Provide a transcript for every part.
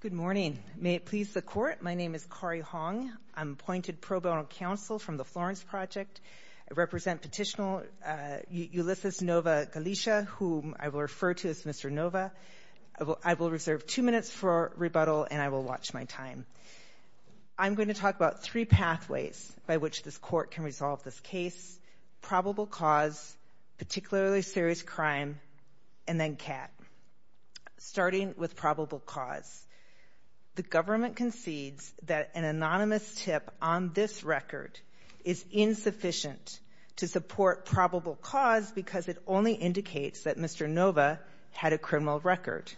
Good morning. May it please the Court, my name is Kari Hong. I'm appointed pro bono counsel from the Florence Project. I represent petitioner Ulysses Novoa-Galicia, whom I will refer to as Mr. Novoa. I will reserve two minutes for rebuttal and I will watch my time. I'm going to talk about three pathways by which this Court can resolve this case. Probable cause, particularly serious crime, and then cap. Starting with probable cause, the government concedes that an anonymous tip on this record is insufficient to support probable cause because it only indicates that Mr. Novoa had a criminal record.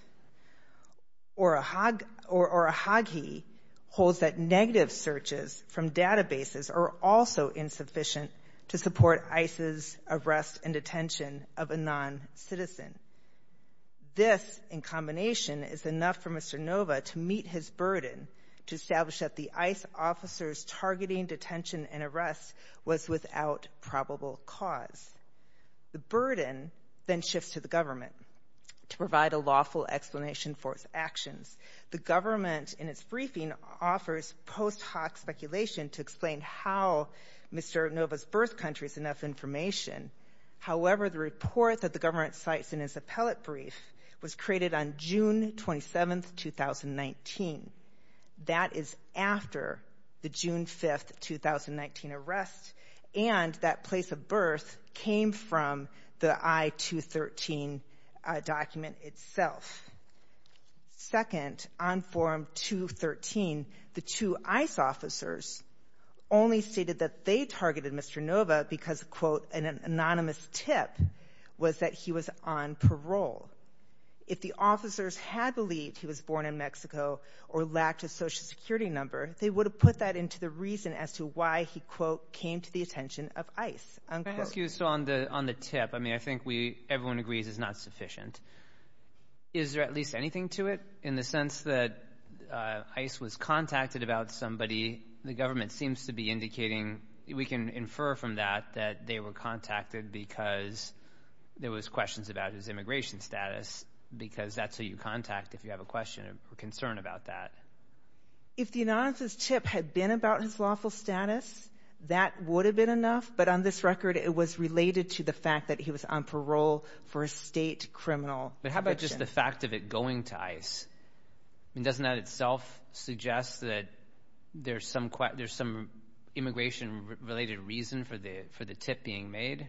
Or a hog or a hog he holds that negative searches from databases are also insufficient to support ICE's arrest and detention of a non-citizen. This, in combination, is enough for Mr. Novoa to meet his burden, to establish that the ICE officer's targeting detention and arrest was without probable cause. The burden then shifts to the government to provide a lawful explanation for its actions. The government, in its briefing, offers post hoc speculation to explain how Mr. Novoa's birth country is enough information. However, the report that the government cites in its appellate brief was created on June 27th, 2019. That is after the June 5th, 2019 arrest and that place of birth came from the I-213 document itself. Second, on form 213, the two ICE officers only stated that they targeted Mr. Novoa because, quote, an anonymous tip was that he was on parole. If the officers had believed he was born in Mexico or lacked a social security number, they would have put that into the reason as to why he, quote, came to the attention of ICE. I'm going to ask you, so on the tip, I mean, I think everyone agrees it's not sufficient. Is there at least anything to it in the sense that ICE was contacted about somebody? The government seems to be indicating, we can infer from that, that they were contacted because there was questions about his immigration status because that's who you contact if you have a question or concern about that. If the anonymous tip had been about his lawful status, that would have been enough. But on this record, it was related to the fact that he was on parole for a state criminal conviction. But how about just the fact of it going to ICE? I mean, doesn't that itself suggest that there's some immigration-related reason for the tip being made?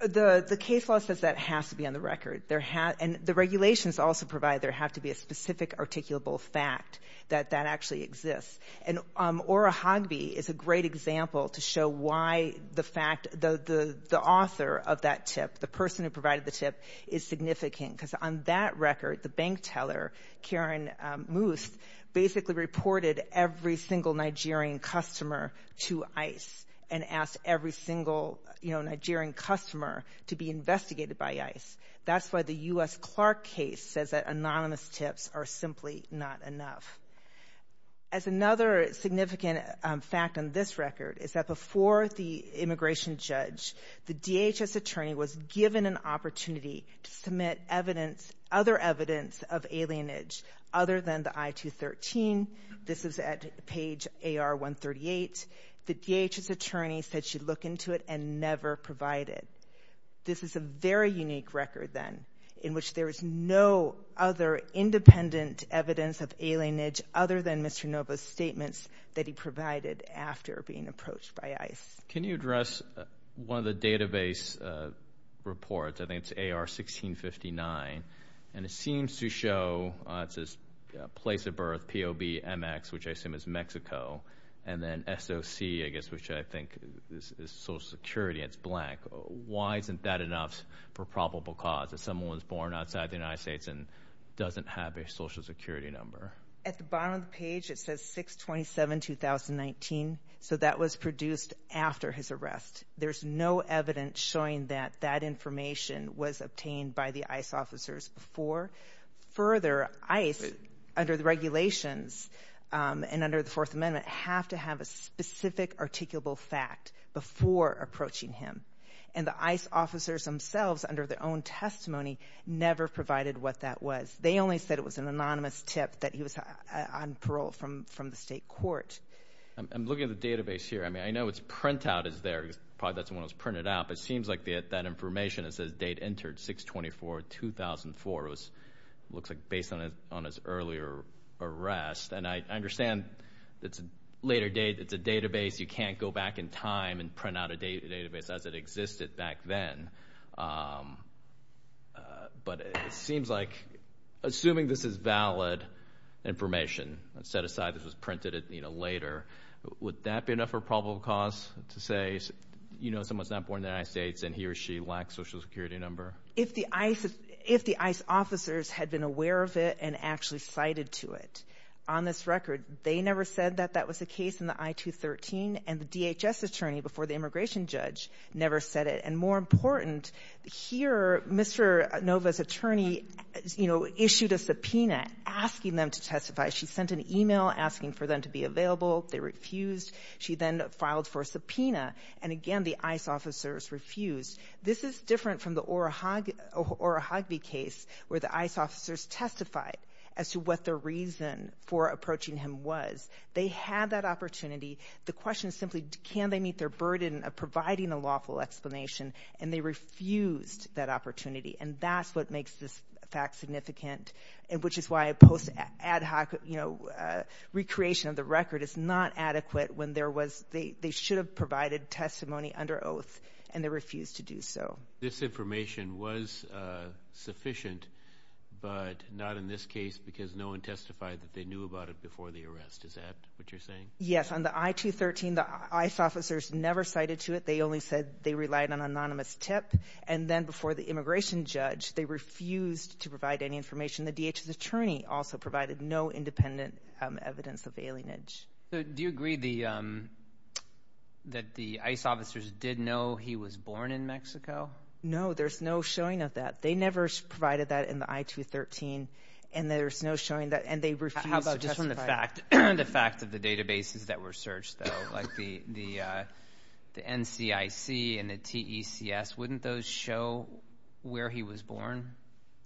The case law says that has to be on the record. And the regulations also provide there have to be a specific articulable fact that that actually exists. And Ora Hogby is a great example to show why the fact, the author of that tip, the person who provided the tip, is significant. Because on that record, the bank teller, Karen Moose, basically reported every single Nigerian customer to ICE and asked every single Nigerian customer to be investigated by ICE. That's why the U.S. Clark case says that anonymous tips are simply not enough. As another significant fact on this record is that before the immigration judge, the DHS attorney was given an opportunity to submit evidence, other evidence, of alienage other than the I-213. This is at page AR-138. The DHS attorney said she'd look into it and never provide it. This is a very unique record, then, in which there is no other independent evidence of alienage other than Mr. Novo's statements that he provided after being approached by ICE. Can you address one of the database reports, I think it's AR-1659, and it seems to show it's a place of birth, P-O-B-M-X, which I assume is Mexico, and then S-O-C, I guess, which I think is Social Security, it's blank. Why isn't that enough for probable cause if someone was born outside the United States and doesn't have a Social Security number? At the was produced after his arrest. There's no evidence showing that that information was obtained by the ICE officers before. Further, ICE, under the regulations and under the Fourth Amendment, have to have a specific articulable fact before approaching him. And the ICE officers themselves, under their own testimony, never provided what that was. They only said it was an anonymous tip that he was on parole from the state court. I'm looking at the database here. I mean, I know it's printout is there, probably that's when it was printed out, but it seems like that information, it says date entered 6-24-2004. It looks like based on his earlier arrest, and I understand it's a later date, it's a database, you can't go back in time and print out a database as it information. Set aside, this was printed later. Would that be enough for probable cause to say, you know, someone's not born in the United States and he or she lacks a Social Security number? If the ICE officers had been aware of it and actually cited to it, on this record, they never said that that was the case in the I-213, and the DHS attorney before the immigration judge never said it. And more important, here, Mr. Nova's attorney, you know, issued a subpoena asking them to testify. She sent an email asking for them to be available. They refused. She then filed for a subpoena. And again, the ICE officers refused. This is different from the Orohagvi case, where the ICE officers testified as to what the reason for approaching him was. They had that opportunity. The question is simply, can they meet their burden of providing a lawful explanation? And they refused that opportunity. And that's what makes this fact significant, which is why a post-ad hoc, you know, recreation of the record is not adequate when there was, they should have provided testimony under oath, and they refused to do so. This information was sufficient, but not in this case because no one testified that they knew about it before the arrest. Is that what you're saying? Yes. On the I-213, the ICE officers never cited to it. They only said they relied on an anonymous tip. And then before the immigration judge, they refused to provide any information. The DHS attorney also provided no independent evidence of alienage. So do you agree that the ICE officers did know he was born in Mexico? No, there's no showing of that. They never provided that in the I-213, and there's no showing that, and they refused to testify. How about just on the fact of the databases that were searched, though, like the NCIC and the TECS, wouldn't those show where he was born?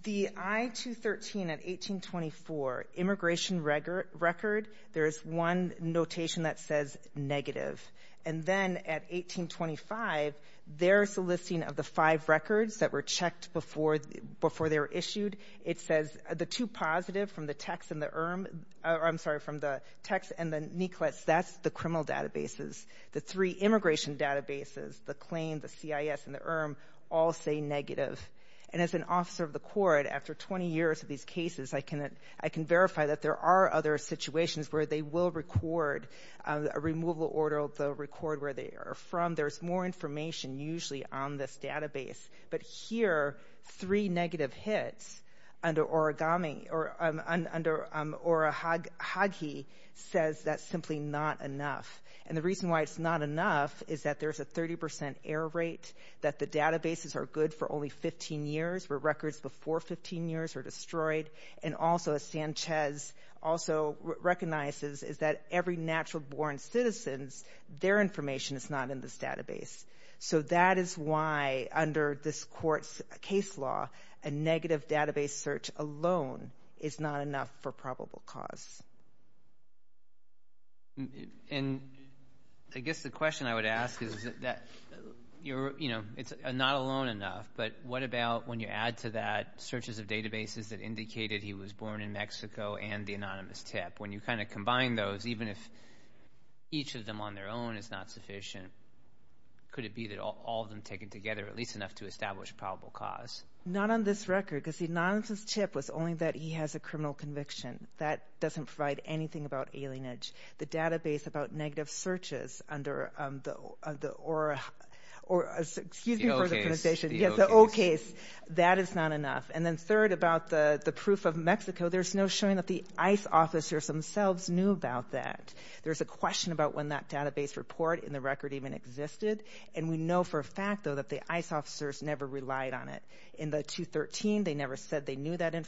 The I-213 at 1824, immigration record, there's one notation that says negative. And then at 1825, there's the listing of the five records that were checked before they were issued. It says the two positive from the TECS and the ERM, or I'm sorry, from the TECS and the NCLEX, that's the criminal databases. The three immigration databases, the claim, the CIS, and the ERM, all say negative. And as an officer of the court, after 20 years of these cases, I can verify that there are other situations where they will record, a removal order will record where they are from. There's more information usually on this database. But here, three not enough. And the reason why it's not enough is that there's a 30 percent error rate, that the databases are good for only 15 years, where records before 15 years are destroyed. And also, as Sanchez also recognizes, is that every natural-born citizens, their information is not in this database. So that is why, under this court's case law, a negative database search alone is not enough for probable cause. And I guess the question I would ask is that you're, you know, it's not alone enough, but what about when you add to that searches of databases that indicated he was born in Mexico and the anonymous tip? When you kind of combine those, even if each of them on their own is not sufficient, could it be that all of them taken together, at least enough to establish probable cause? Not on this record, because the anonymous chip was only that he has a criminal conviction. That doesn't provide anything about alienage. The database about negative searches under the, or, excuse me for the pronunciation, the O case, that is not enough. And then third, about the proof of Mexico, there's no showing that the ICE officers themselves knew about that. There's a question about when that database report in the record even existed. And we know for a fact, though, that the ICE officers never relied on it. In the 213, they never said they knew that the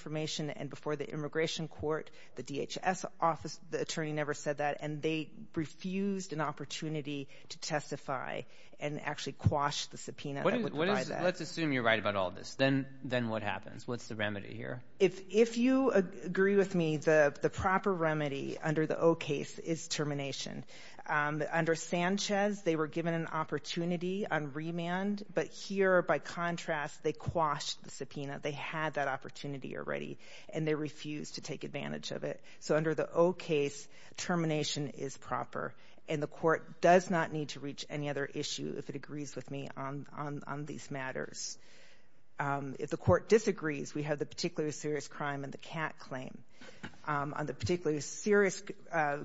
DHS office, the attorney never said that. And they refused an opportunity to testify and actually quash the subpoena. Let's assume you're right about all this, then what happens? What's the remedy here? If you agree with me, the proper remedy under the O case is termination. Under Sanchez, they were given an opportunity on remand, but here, by contrast, they quashed the subpoena. They had that opportunity already, and they refused to take advantage of it. So under the O case, termination is proper. And the court does not need to reach any other issue, if it agrees with me, on these matters. If the court disagrees, we have the particularly serious crime and the CAT claim. On the particularly serious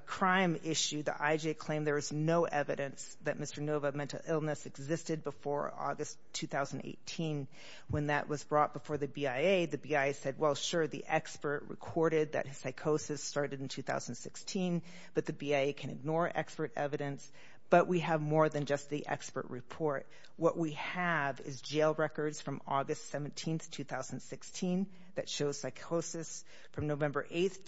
crime issue, the IJ claimed there was no evidence that Mr. Nova mental illness existed before August 2018. When that was brought before the BIA, the BIA said, well, sure, the expert recorded that his psychosis started in 2016, but the BIA can ignore expert evidence. But we have more than just the expert report. What we have is jail records from August 17, 2016, that shows psychosis from November 8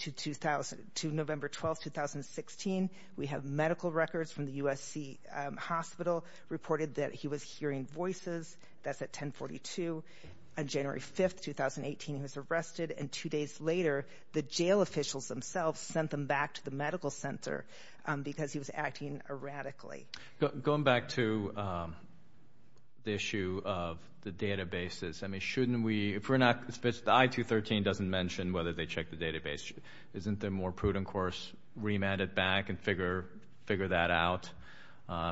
to November 12, 2016. We have medical records from the USC hospital reported that he was hearing voices. That's at 1042. On January 5, 2018, he was arrested, and two days later, the jail officials themselves sent them back to the medical center because he was acting erratically. Going back to the issue of the databases, I mean, shouldn't we, if we're not, the I213 doesn't mention whether they checked the database. Isn't there a more prudent course, remand it back and figure that out?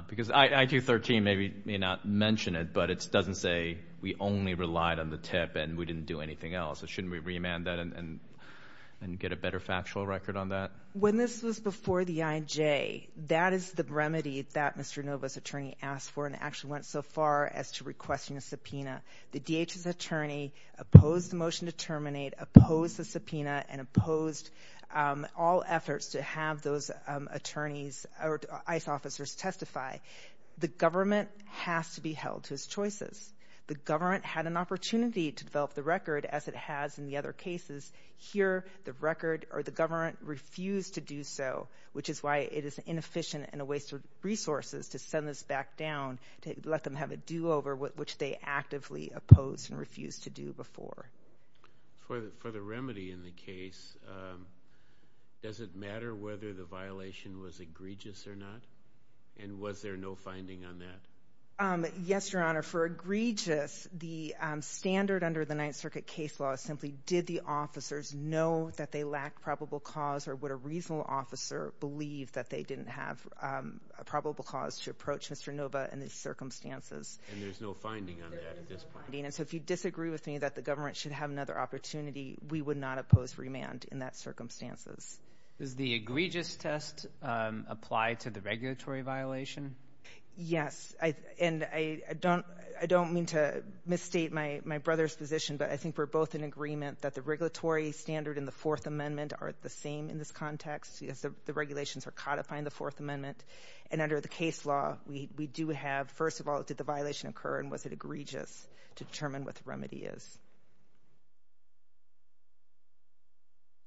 Because I213 may not mention it, but it doesn't say we only relied on the tip and we didn't do anything else. Shouldn't we remand that and get a better factual record on that? When this was before the IJ, that is the remedy that Mr. Nova's attorney asked for and actually went so far as to requesting a subpoena. The DHS attorney opposed the motion to terminate, opposed the subpoena, and opposed all efforts to have those attorneys or ICE officers testify. The government has to be held to its choices. The government had an opportunity to develop the record as it has in the other cases. Here, the record or the government refused to do so, which is why it is inefficient and a waste of resources to send this back down, to let them have a do-over, which they actively opposed and refused to do before. For the remedy in the case, does it matter whether the violation was egregious or not? And was there no finding on that? Yes, Your Honor. For egregious, the standard under the Ninth Circuit case law is simply, did the officers know that they lacked probable cause or would a reasonable officer believe that they didn't have a probable cause to approach Mr. Nova in these circumstances? And there's no finding on that at this point. And so if you disagree with me that the government should have another opportunity, we would not oppose remand in that circumstances. Does the egregious test apply to the regulatory violation? Yes. And I don't mean to misstate my brother's position, but I think we're both in agreement that the regulatory standard and the Fourth Amendment are the same in this context, because the regulations are codifying the Fourth Amendment. And under the case law, we do have, first of all, did the violation occur and was it egregious to determine what the remedy is?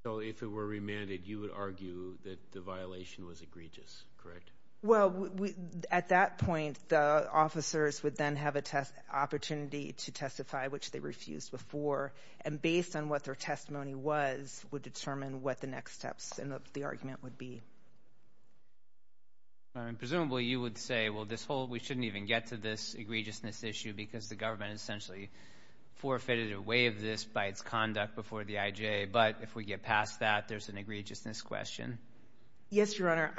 So if it were remanded, you would argue that the violation was egregious, correct? Well, at that point, the officers would then have an opportunity to testify, which they refused before, and based on what their testimony was, would determine what the next steps in the argument would be. Presumably, you would say, well, we shouldn't even get to this egregiousness issue because the government essentially forfeited a way of this by its conduct before the IJ. But if we get past that, there's an egregiousness question. Yes, Your Honor.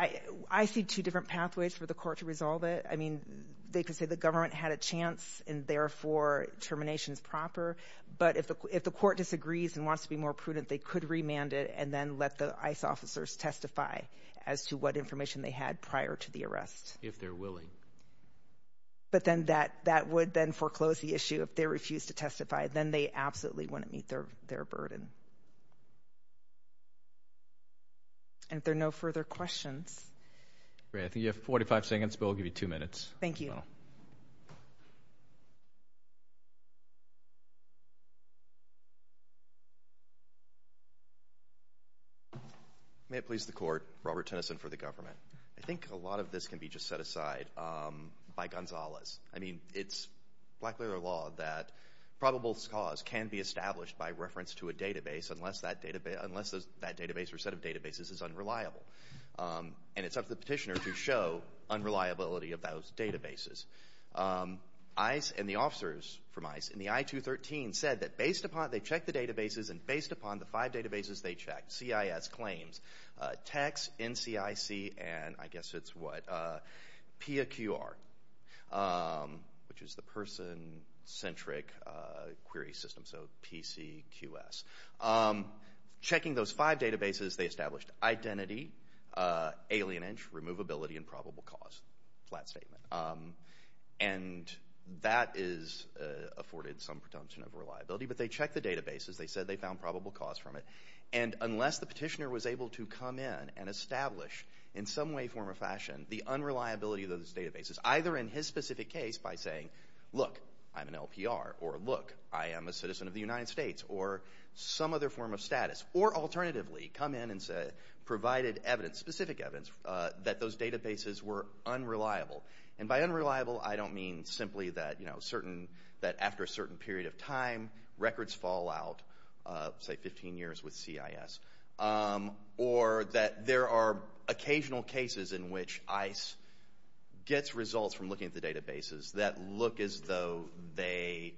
I see two different pathways for the court to resolve it. I mean, they could say the government had a chance and therefore, termination is proper. But if the court disagrees and wants to be more prudent, they could remand it and then let the ICE officers testify as to what information they had prior to the arrest. If they're willing. But then that would then foreclose the issue. If they refuse to testify, then they absolutely wouldn't meet their burden. And if there are no further questions. Great. I think you have 45 seconds, but we'll give you two minutes. Thank you. May it please the court. Robert Tennyson for the government. I think a lot of this can be just set aside by Gonzalez. I mean, it's blackmailer law that probable cause can be established by reference to a database unless that database or set of databases is unreliable. And it's up to ICE. And the I-213 said that based upon, they checked the databases and based upon the five databases they checked, CIS claims, TECS, NCIC, and I guess it's what, PIA-QR, which is the person-centric query system. So PCQS. Checking those five databases, they established identity, alienage, removability, and probable cause. Flat statement. And that is afforded some presumption of reliability. But they checked the databases. They said they found probable cause from it. And unless the petitioner was able to come in and establish in some way, form, or fashion the unreliability of those databases, either in his specific case by saying, look, I'm an LPR, or look, I am a citizen of the United States, or some other form of status, or alternatively come in and say, provided evidence, specific evidence, that those databases were unreliable. And by unreliable, I don't mean simply that, you know, certain, that after a certain period of time records fall out, say 15 years with CIS, or that there are occasional cases in which ICE gets results from looking at the databases that look as though they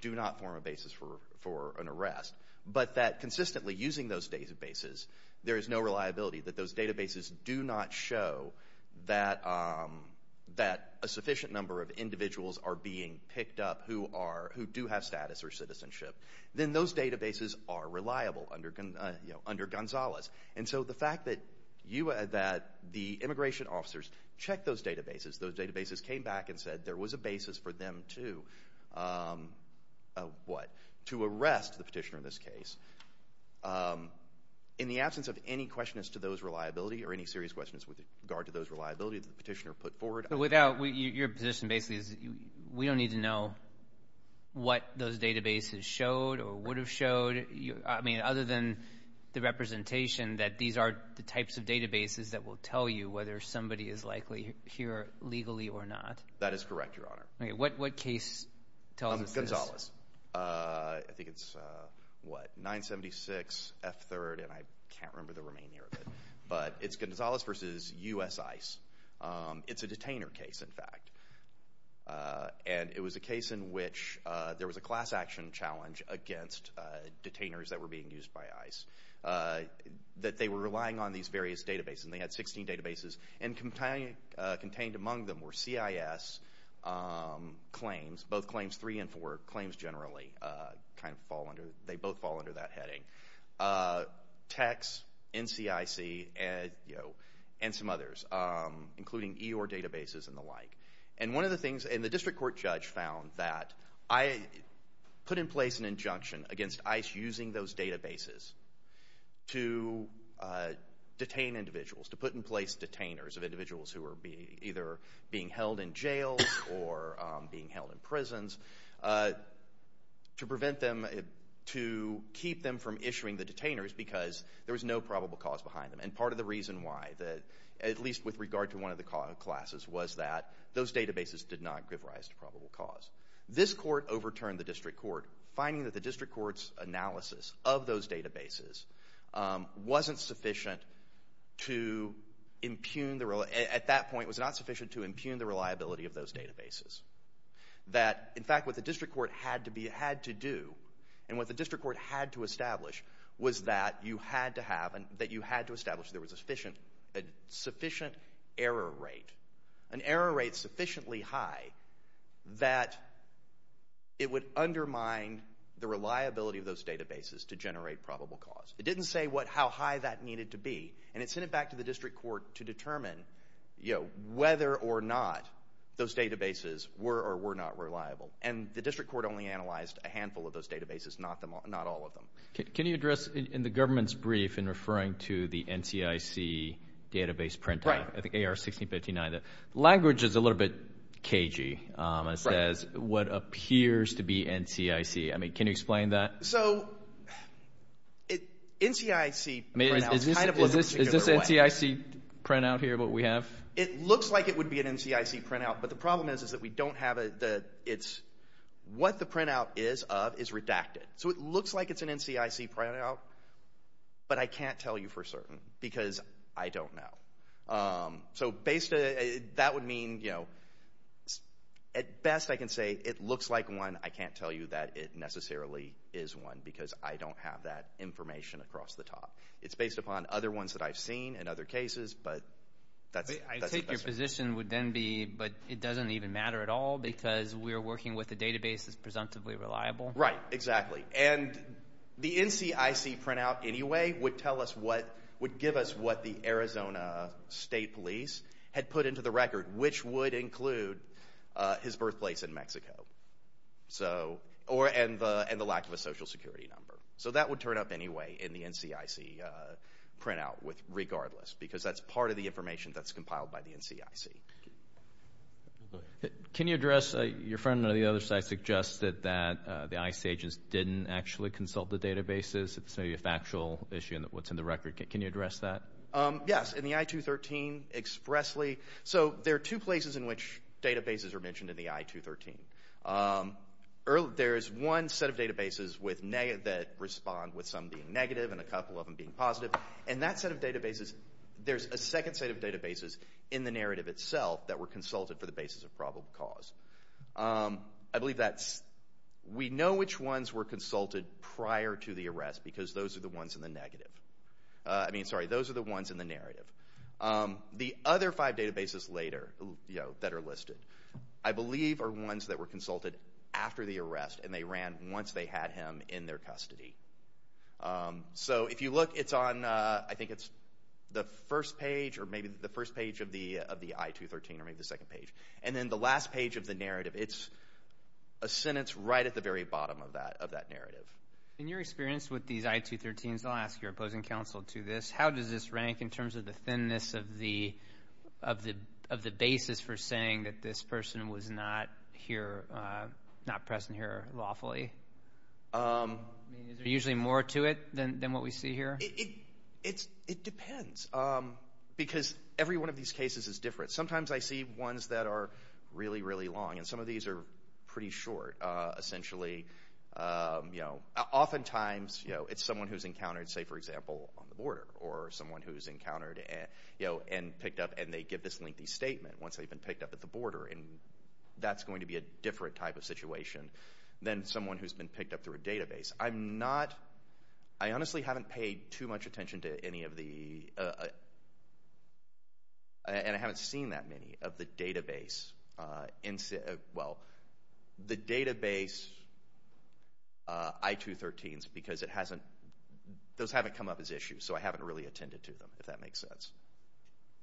do not form a basis for an arrest. But that consistently using those databases, there is no reliability that those databases do not show that a sufficient number of individuals are being picked up who do have status or citizenship. Then those databases are reliable under Gonzalez. And so the fact that the immigration officers checked those databases, those databases came back and said there was a basis for them to, what, to arrest the petitioner in this case, in the absence of any question as to those reliability, or any serious questions with regard to those reliability that the petitioner put forward. So without, your position basically is we don't need to know what those databases showed or would have showed, I mean, other than the representation that these are the types of databases that will That is correct, Your Honor. Okay, what case tells us this? Gonzalez. I think it's, what, 976 F3rd, and I can't remember the remaining of it. But it's Gonzalez versus U.S. ICE. It's a detainer case, in fact. And it was a case in which there was a class action challenge against detainers that were being used by ICE, that they were relying on these various databases, and they had 16 databases, and contained among them were CIS claims, both claims three and four, claims generally, kind of fall under, they both fall under that heading, techs, NCIC, and, you know, and some others, including EOR databases and the like. And one of the things, and the district court judge found that I put in place an injunction against ICE using those databases to detain individuals, to put in place detainers of individuals who were either being held in jails or being held in prisons, to prevent them, to keep them from issuing the detainers, because there was no probable cause behind them. And part of the reason why, at least with regard to one of the classes, was that those databases did not give rise to probable cause. This court overturned the district court's analysis of those databases, wasn't sufficient to impugn the, at that point, it was not sufficient to impugn the reliability of those databases. That, in fact, what the district court had to be, had to do, and what the district court had to establish, was that you had to have, that you had to establish there was a sufficient, a sufficient error rate, an error rate sufficiently high, that it would undermine the reliability of those databases to generate probable cause. It didn't say what, how high that needed to be, and it sent it back to the district court to determine, you know, whether or not those databases were or were not reliable. And the district court only analyzed a handful of those databases, not all of them. Can you address, in the government's database printout, I think AR 1659, the language is a little bit cagey. It says, what appears to be NCIC. I mean, can you explain that? So, NCIC printout kind of looks a particular way. Is this NCIC printout here, what we have? It looks like it would be an NCIC printout, but the problem is, is that we don't have a, the, it's, what the printout is of is redacted. So, looks like it's an NCIC printout, but I can't tell you for certain, because I don't know. So, based, that would mean, you know, at best I can say it looks like one. I can't tell you that it necessarily is one, because I don't have that information across the top. It's based upon other ones that I've seen in other cases, but that's, that's. I take your position would then be, but it doesn't even matter at all, because we're working with a database that's presumptively reliable. Right, exactly, and the NCIC printout anyway would tell us what, would give us what the Arizona State Police had put into the record, which would include his birthplace in Mexico. So, or, and the, and the lack of a social security number. So, that would turn up anyway in the NCIC printout with, regardless, because that's part of the information that's compiled by the NCIC. Go ahead. Can you address, your friend on the other side suggested that the ICE agents didn't actually consult the databases. It's maybe a factual issue in what's in the record. Can you address that? Yes, in the I-213 expressly. So, there are two places in which databases are mentioned in the I-213. There's one set of databases with negative, that respond with some being negative and a couple of them being positive, and that set of databases, there's a that were consulted for the basis of probable cause. I believe that's, we know which ones were consulted prior to the arrest, because those are the ones in the negative. I mean, sorry, those are the ones in the narrative. The other five databases later, you know, that are listed, I believe are ones that were consulted after the arrest and they ran once they had him in their custody. So, if you look, it's on, I think it's the first page, or maybe the first page of the I-213, or maybe the second page. And then the last page of the narrative, it's a sentence right at the very bottom of that narrative. In your experience with these I-213s, I'll ask your opposing counsel to this, how does this rank in terms of the thinness of the basis for saying that this person was not present here lawfully? Is there usually more to it than what we see here? It depends, because every one of these cases is different. Sometimes I see ones that are really, really long, and some of these are pretty short. Essentially, you know, oftentimes, you know, it's someone who's encountered, say, for example, on the border, or someone who's encountered, you know, and picked up, and they give this lengthy statement once they've been picked up at the border, and that's going to be a different type of situation than someone who's been picked up through a database. I'm not, I honestly haven't paid too much attention to any of the, and I haven't seen that many of the database, well, the database I-213s, because it hasn't, those haven't come up as issues, so I haven't really attended to them, if that makes sense.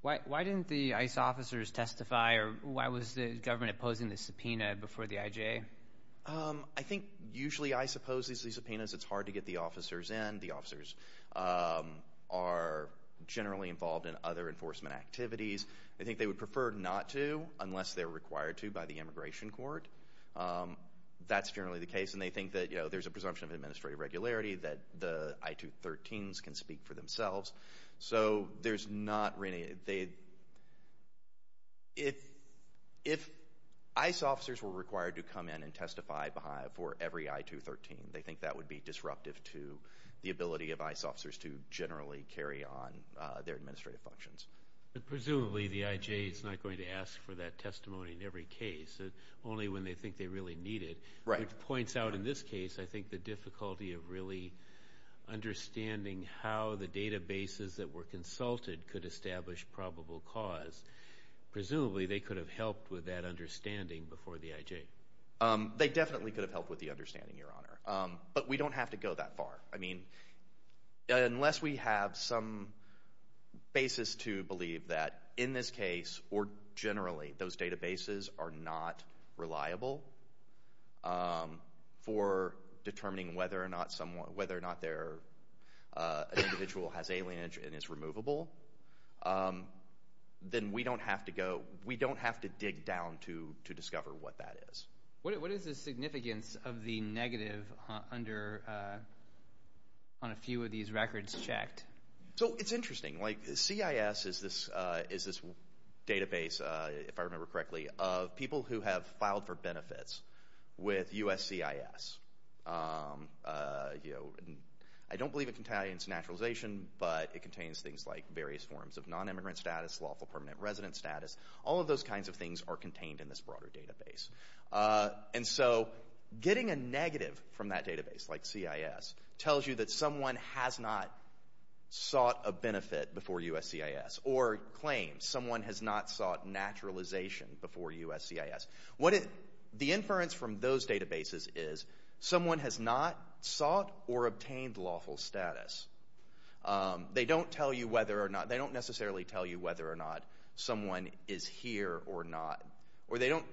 Why didn't the ICE officers testify, or why was the government opposing the I-213s? I think, usually, I suppose these subpoenas, it's hard to get the officers in. The officers are generally involved in other enforcement activities. I think they would prefer not to, unless they're required to by the immigration court. That's generally the case, and they think that, you know, there's a presumption of administrative regularity that the I-213s can speak for themselves, so there's not really, they, if ICE officers were required to come in and testify for every I-213, they think that would be disruptive to the ability of ICE officers to generally carry on their administrative functions. But presumably, the IJ is not going to ask for that testimony in every case, only when they think they really need it, which points out, in this case, I think the difficulty of really understanding how the databases that were consulted could establish probable cause. Presumably, they could have helped with that understanding before the IJ. They definitely could have helped with the understanding, Your Honor, but we don't have to go that far. I mean, unless we have some basis to believe that, in this case, or generally, those databases are not reliable for determining whether or not someone, whether or not their individual has alienage and is removable, then we don't have to go, we don't have to dig down to discover what that is. What is the significance of the negative under, on a few of these records checked? So, it's interesting. Like, CIS is this database, if I remember correctly, of people who have filed for benefits with USCIS. You know, I don't believe it contains naturalization, but it contains things like various forms of non-immigrant status, lawful permanent residence status, all of those kinds of things are contained in this broader database. And so, getting a negative from that database, like CIS, tells you that someone has not sought a benefit before USCIS, or claims someone has not sought naturalization before USCIS. The inference from those databases is someone has not sought or obtained lawful status. They don't tell you whether or not, they don't necessarily tell you whether or not someone is here or not, or they don't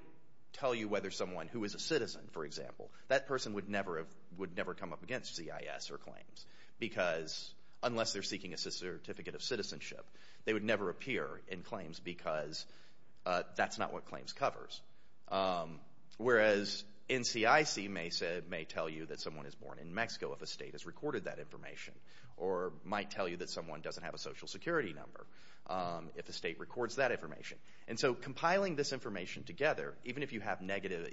tell you whether someone who is a citizen, for example, that person would never have, would never come up against CIS or claims, because unless they're seeking a certificate of citizenship, they would never appear in claims because that's not what claims covers. Whereas NCIC may say, may tell you that someone is born in Mexico if a state has recorded that information, or might tell you that someone doesn't have a social security number. If a state records that information. And so, compiling this information together, even if you have negative,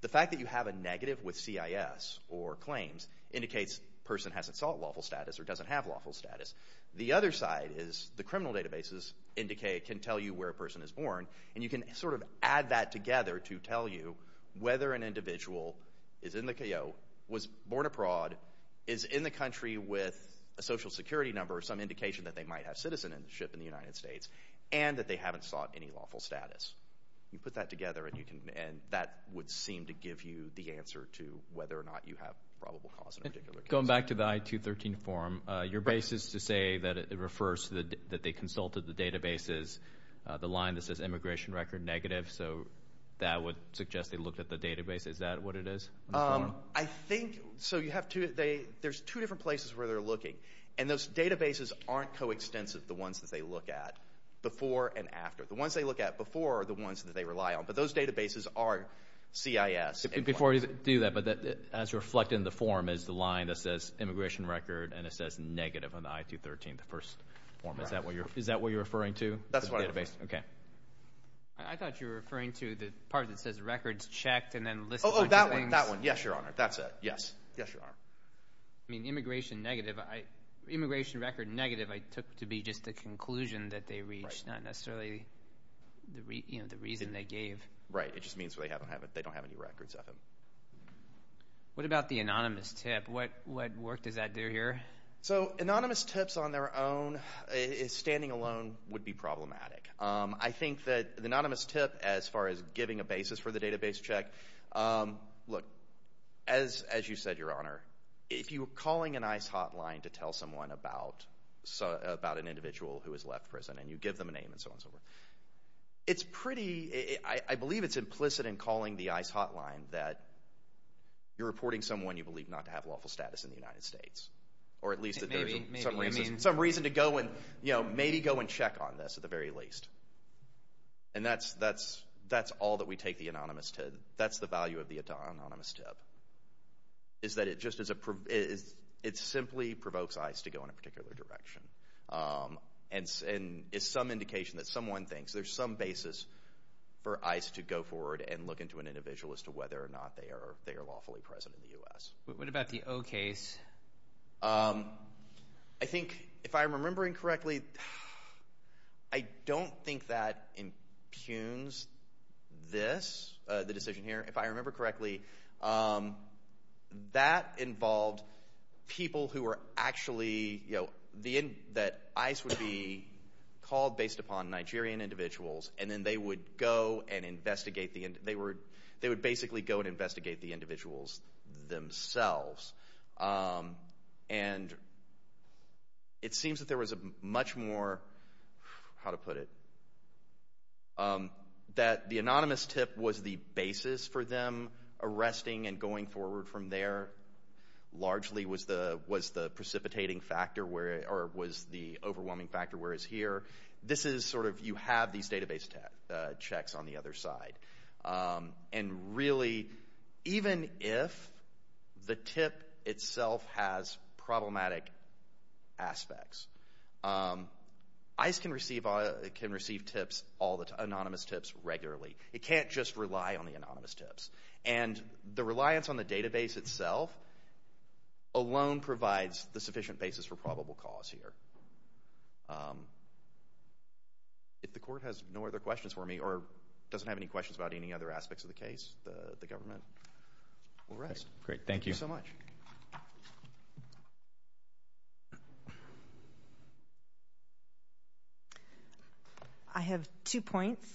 the fact that you have a negative with CIS or claims indicates person hasn't sought lawful status or doesn't have lawful status. The other side is the criminal databases indicate, can tell you where a person is born, and you can sort of add that together to tell you whether an individual is in the CAO, was born abroad, is in the country with a social security number, some indication that they might have citizenship in the United States, and that they haven't sought any lawful status. You put that together, and you can, and that would seem to give you the answer to whether or not you have probable cause in a particular case. Going back to the I-213 form, your basis to say that it refers to the, that they consulted the databases, the line that says immigration record negative, so that would suggest they looked at the database, is that what it is? I think, so you have two, they, there's two different places where they're looking, and those databases aren't coextensive, the ones that they look at before and after. The ones they look at before are the ones that they rely on, but those databases are CIS. Before you do that, but as reflected in the form is the line that says immigration record, and it says negative on the I-213, the first form, is that what you're, is that what you're referring to? That's what I'm referring to. Okay. I thought you were referring to the part that says records checked, and then list. Oh, that one, that one, yes, your honor, that's it, yes, yes, your honor. I mean, immigration negative, I, immigration record negative, I took to be just the conclusion that they reached, not necessarily, you know, the reason they gave. Right, it just means they don't have any records of it. What about the anonymous tip? What work does that do here? So, anonymous tips on their own, standing alone, would be problematic. I think that anonymous tip, as far as giving a basis for the database check, look, as, as you said, your honor, if you're calling an ICE hotline to tell someone about, about an individual who has left prison, and you give them a name and so on and so forth, it's pretty, I believe it's implicit in calling the ICE hotline that you're reporting someone you believe not to have lawful status in the United States, or at least that there's some reason to go and, you know, maybe go and check on this, at the very least. And that's, that's, that's all that we take the anonymous tip, that's the value of the anonymous tip, is that it just is a, it simply provokes ICE to go in a particular direction, and is some indication that someone thinks there's some basis for ICE to go forward and look into an individual as to whether or not they are, they are lawfully present in the U.S. What about the O case? Um, I think, if I'm remembering correctly, I don't think that impugns this, the decision here, if I remember correctly, that involved people who were actually, you know, the, that ICE would be called based upon Nigerian individuals, and then they would go and investigate the, they were, they would basically go and investigate. And it seems that there was a much more, how to put it, that the anonymous tip was the basis for them arresting and going forward from there, largely was the, was the precipitating factor where, or was the overwhelming factor whereas here, this is sort of, you have these database checks on the other side. And really, even if the tip itself has problematic aspects, um, ICE can receive, can receive tips all the time, anonymous tips regularly. It can't just rely on the anonymous tips. And the reliance on the database itself alone provides the sufficient basis for probable cause here. Um, if the court has no other questions for me, or doesn't have any questions about any other aspects of the case, the government will rest. Great. Thank you so much. I have two points.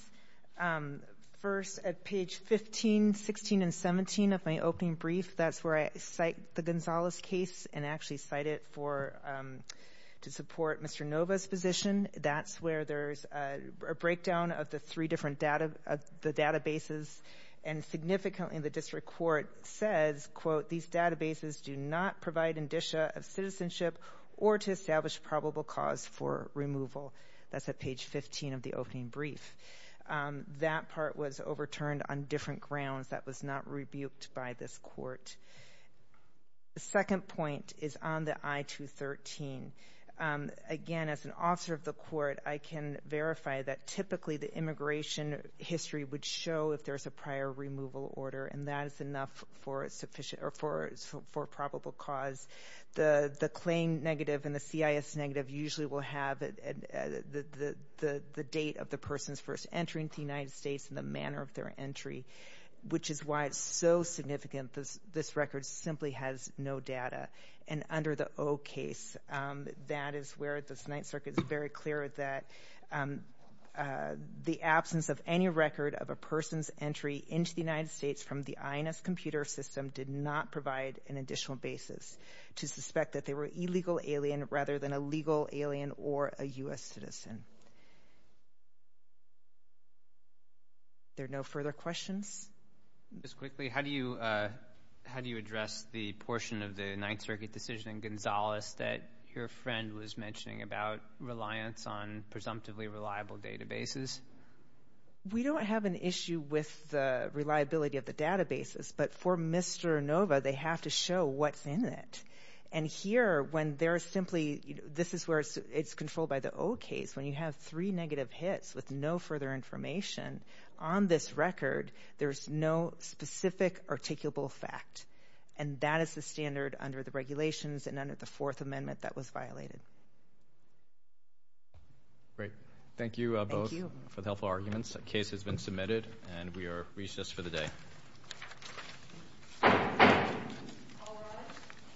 Um, first at page 15, 16 and 17 of my opening brief, that's where I cite the Gonzalez case and actually cite it for, um, to support Mr. Nova's position. That's where there's a breakdown of the three different data, the databases, and significantly in the district court says, quote, these databases do not provide indicia of citizenship or to establish probable cause for removal. That's at page 15 of the opening brief. Um, that part was overturned on different grounds that was not rebuked by this court. The second point is on the I-213. Um, again, as an officer of the court, I can verify that typically the immigration history would show if there's a prior removal order, and that is enough for sufficient or for, for probable cause. The, the claim negative and the CIS negative usually will have the, the date of the person's first entry into the United States and the manner of their entry, which is why it's so significant. This, this record simply has no data. And under the O case, that is where the Ninth Circuit is very clear that, um, uh, the absence of any record of a person's entry into the United States from the INS computer system did not provide an additional basis to suspect that they were illegal alien rather than a legal alien or a U.S. citizen. There are no further questions. Just quickly, how do you, uh, how do you address the portion of the was mentioning about reliance on presumptively reliable databases? We don't have an issue with the reliability of the databases, but for Mr. Inova, they have to show what's in it. And here, when there is simply, this is where it's, it's controlled by the old case. When you have three negative hits with no further information on this record, there's no specific articulable fact. And that is the standard under the regulations and under the regulations that this record is violated. Great. Thank you both for the helpful arguments. The case has been submitted and we are recessed for the day.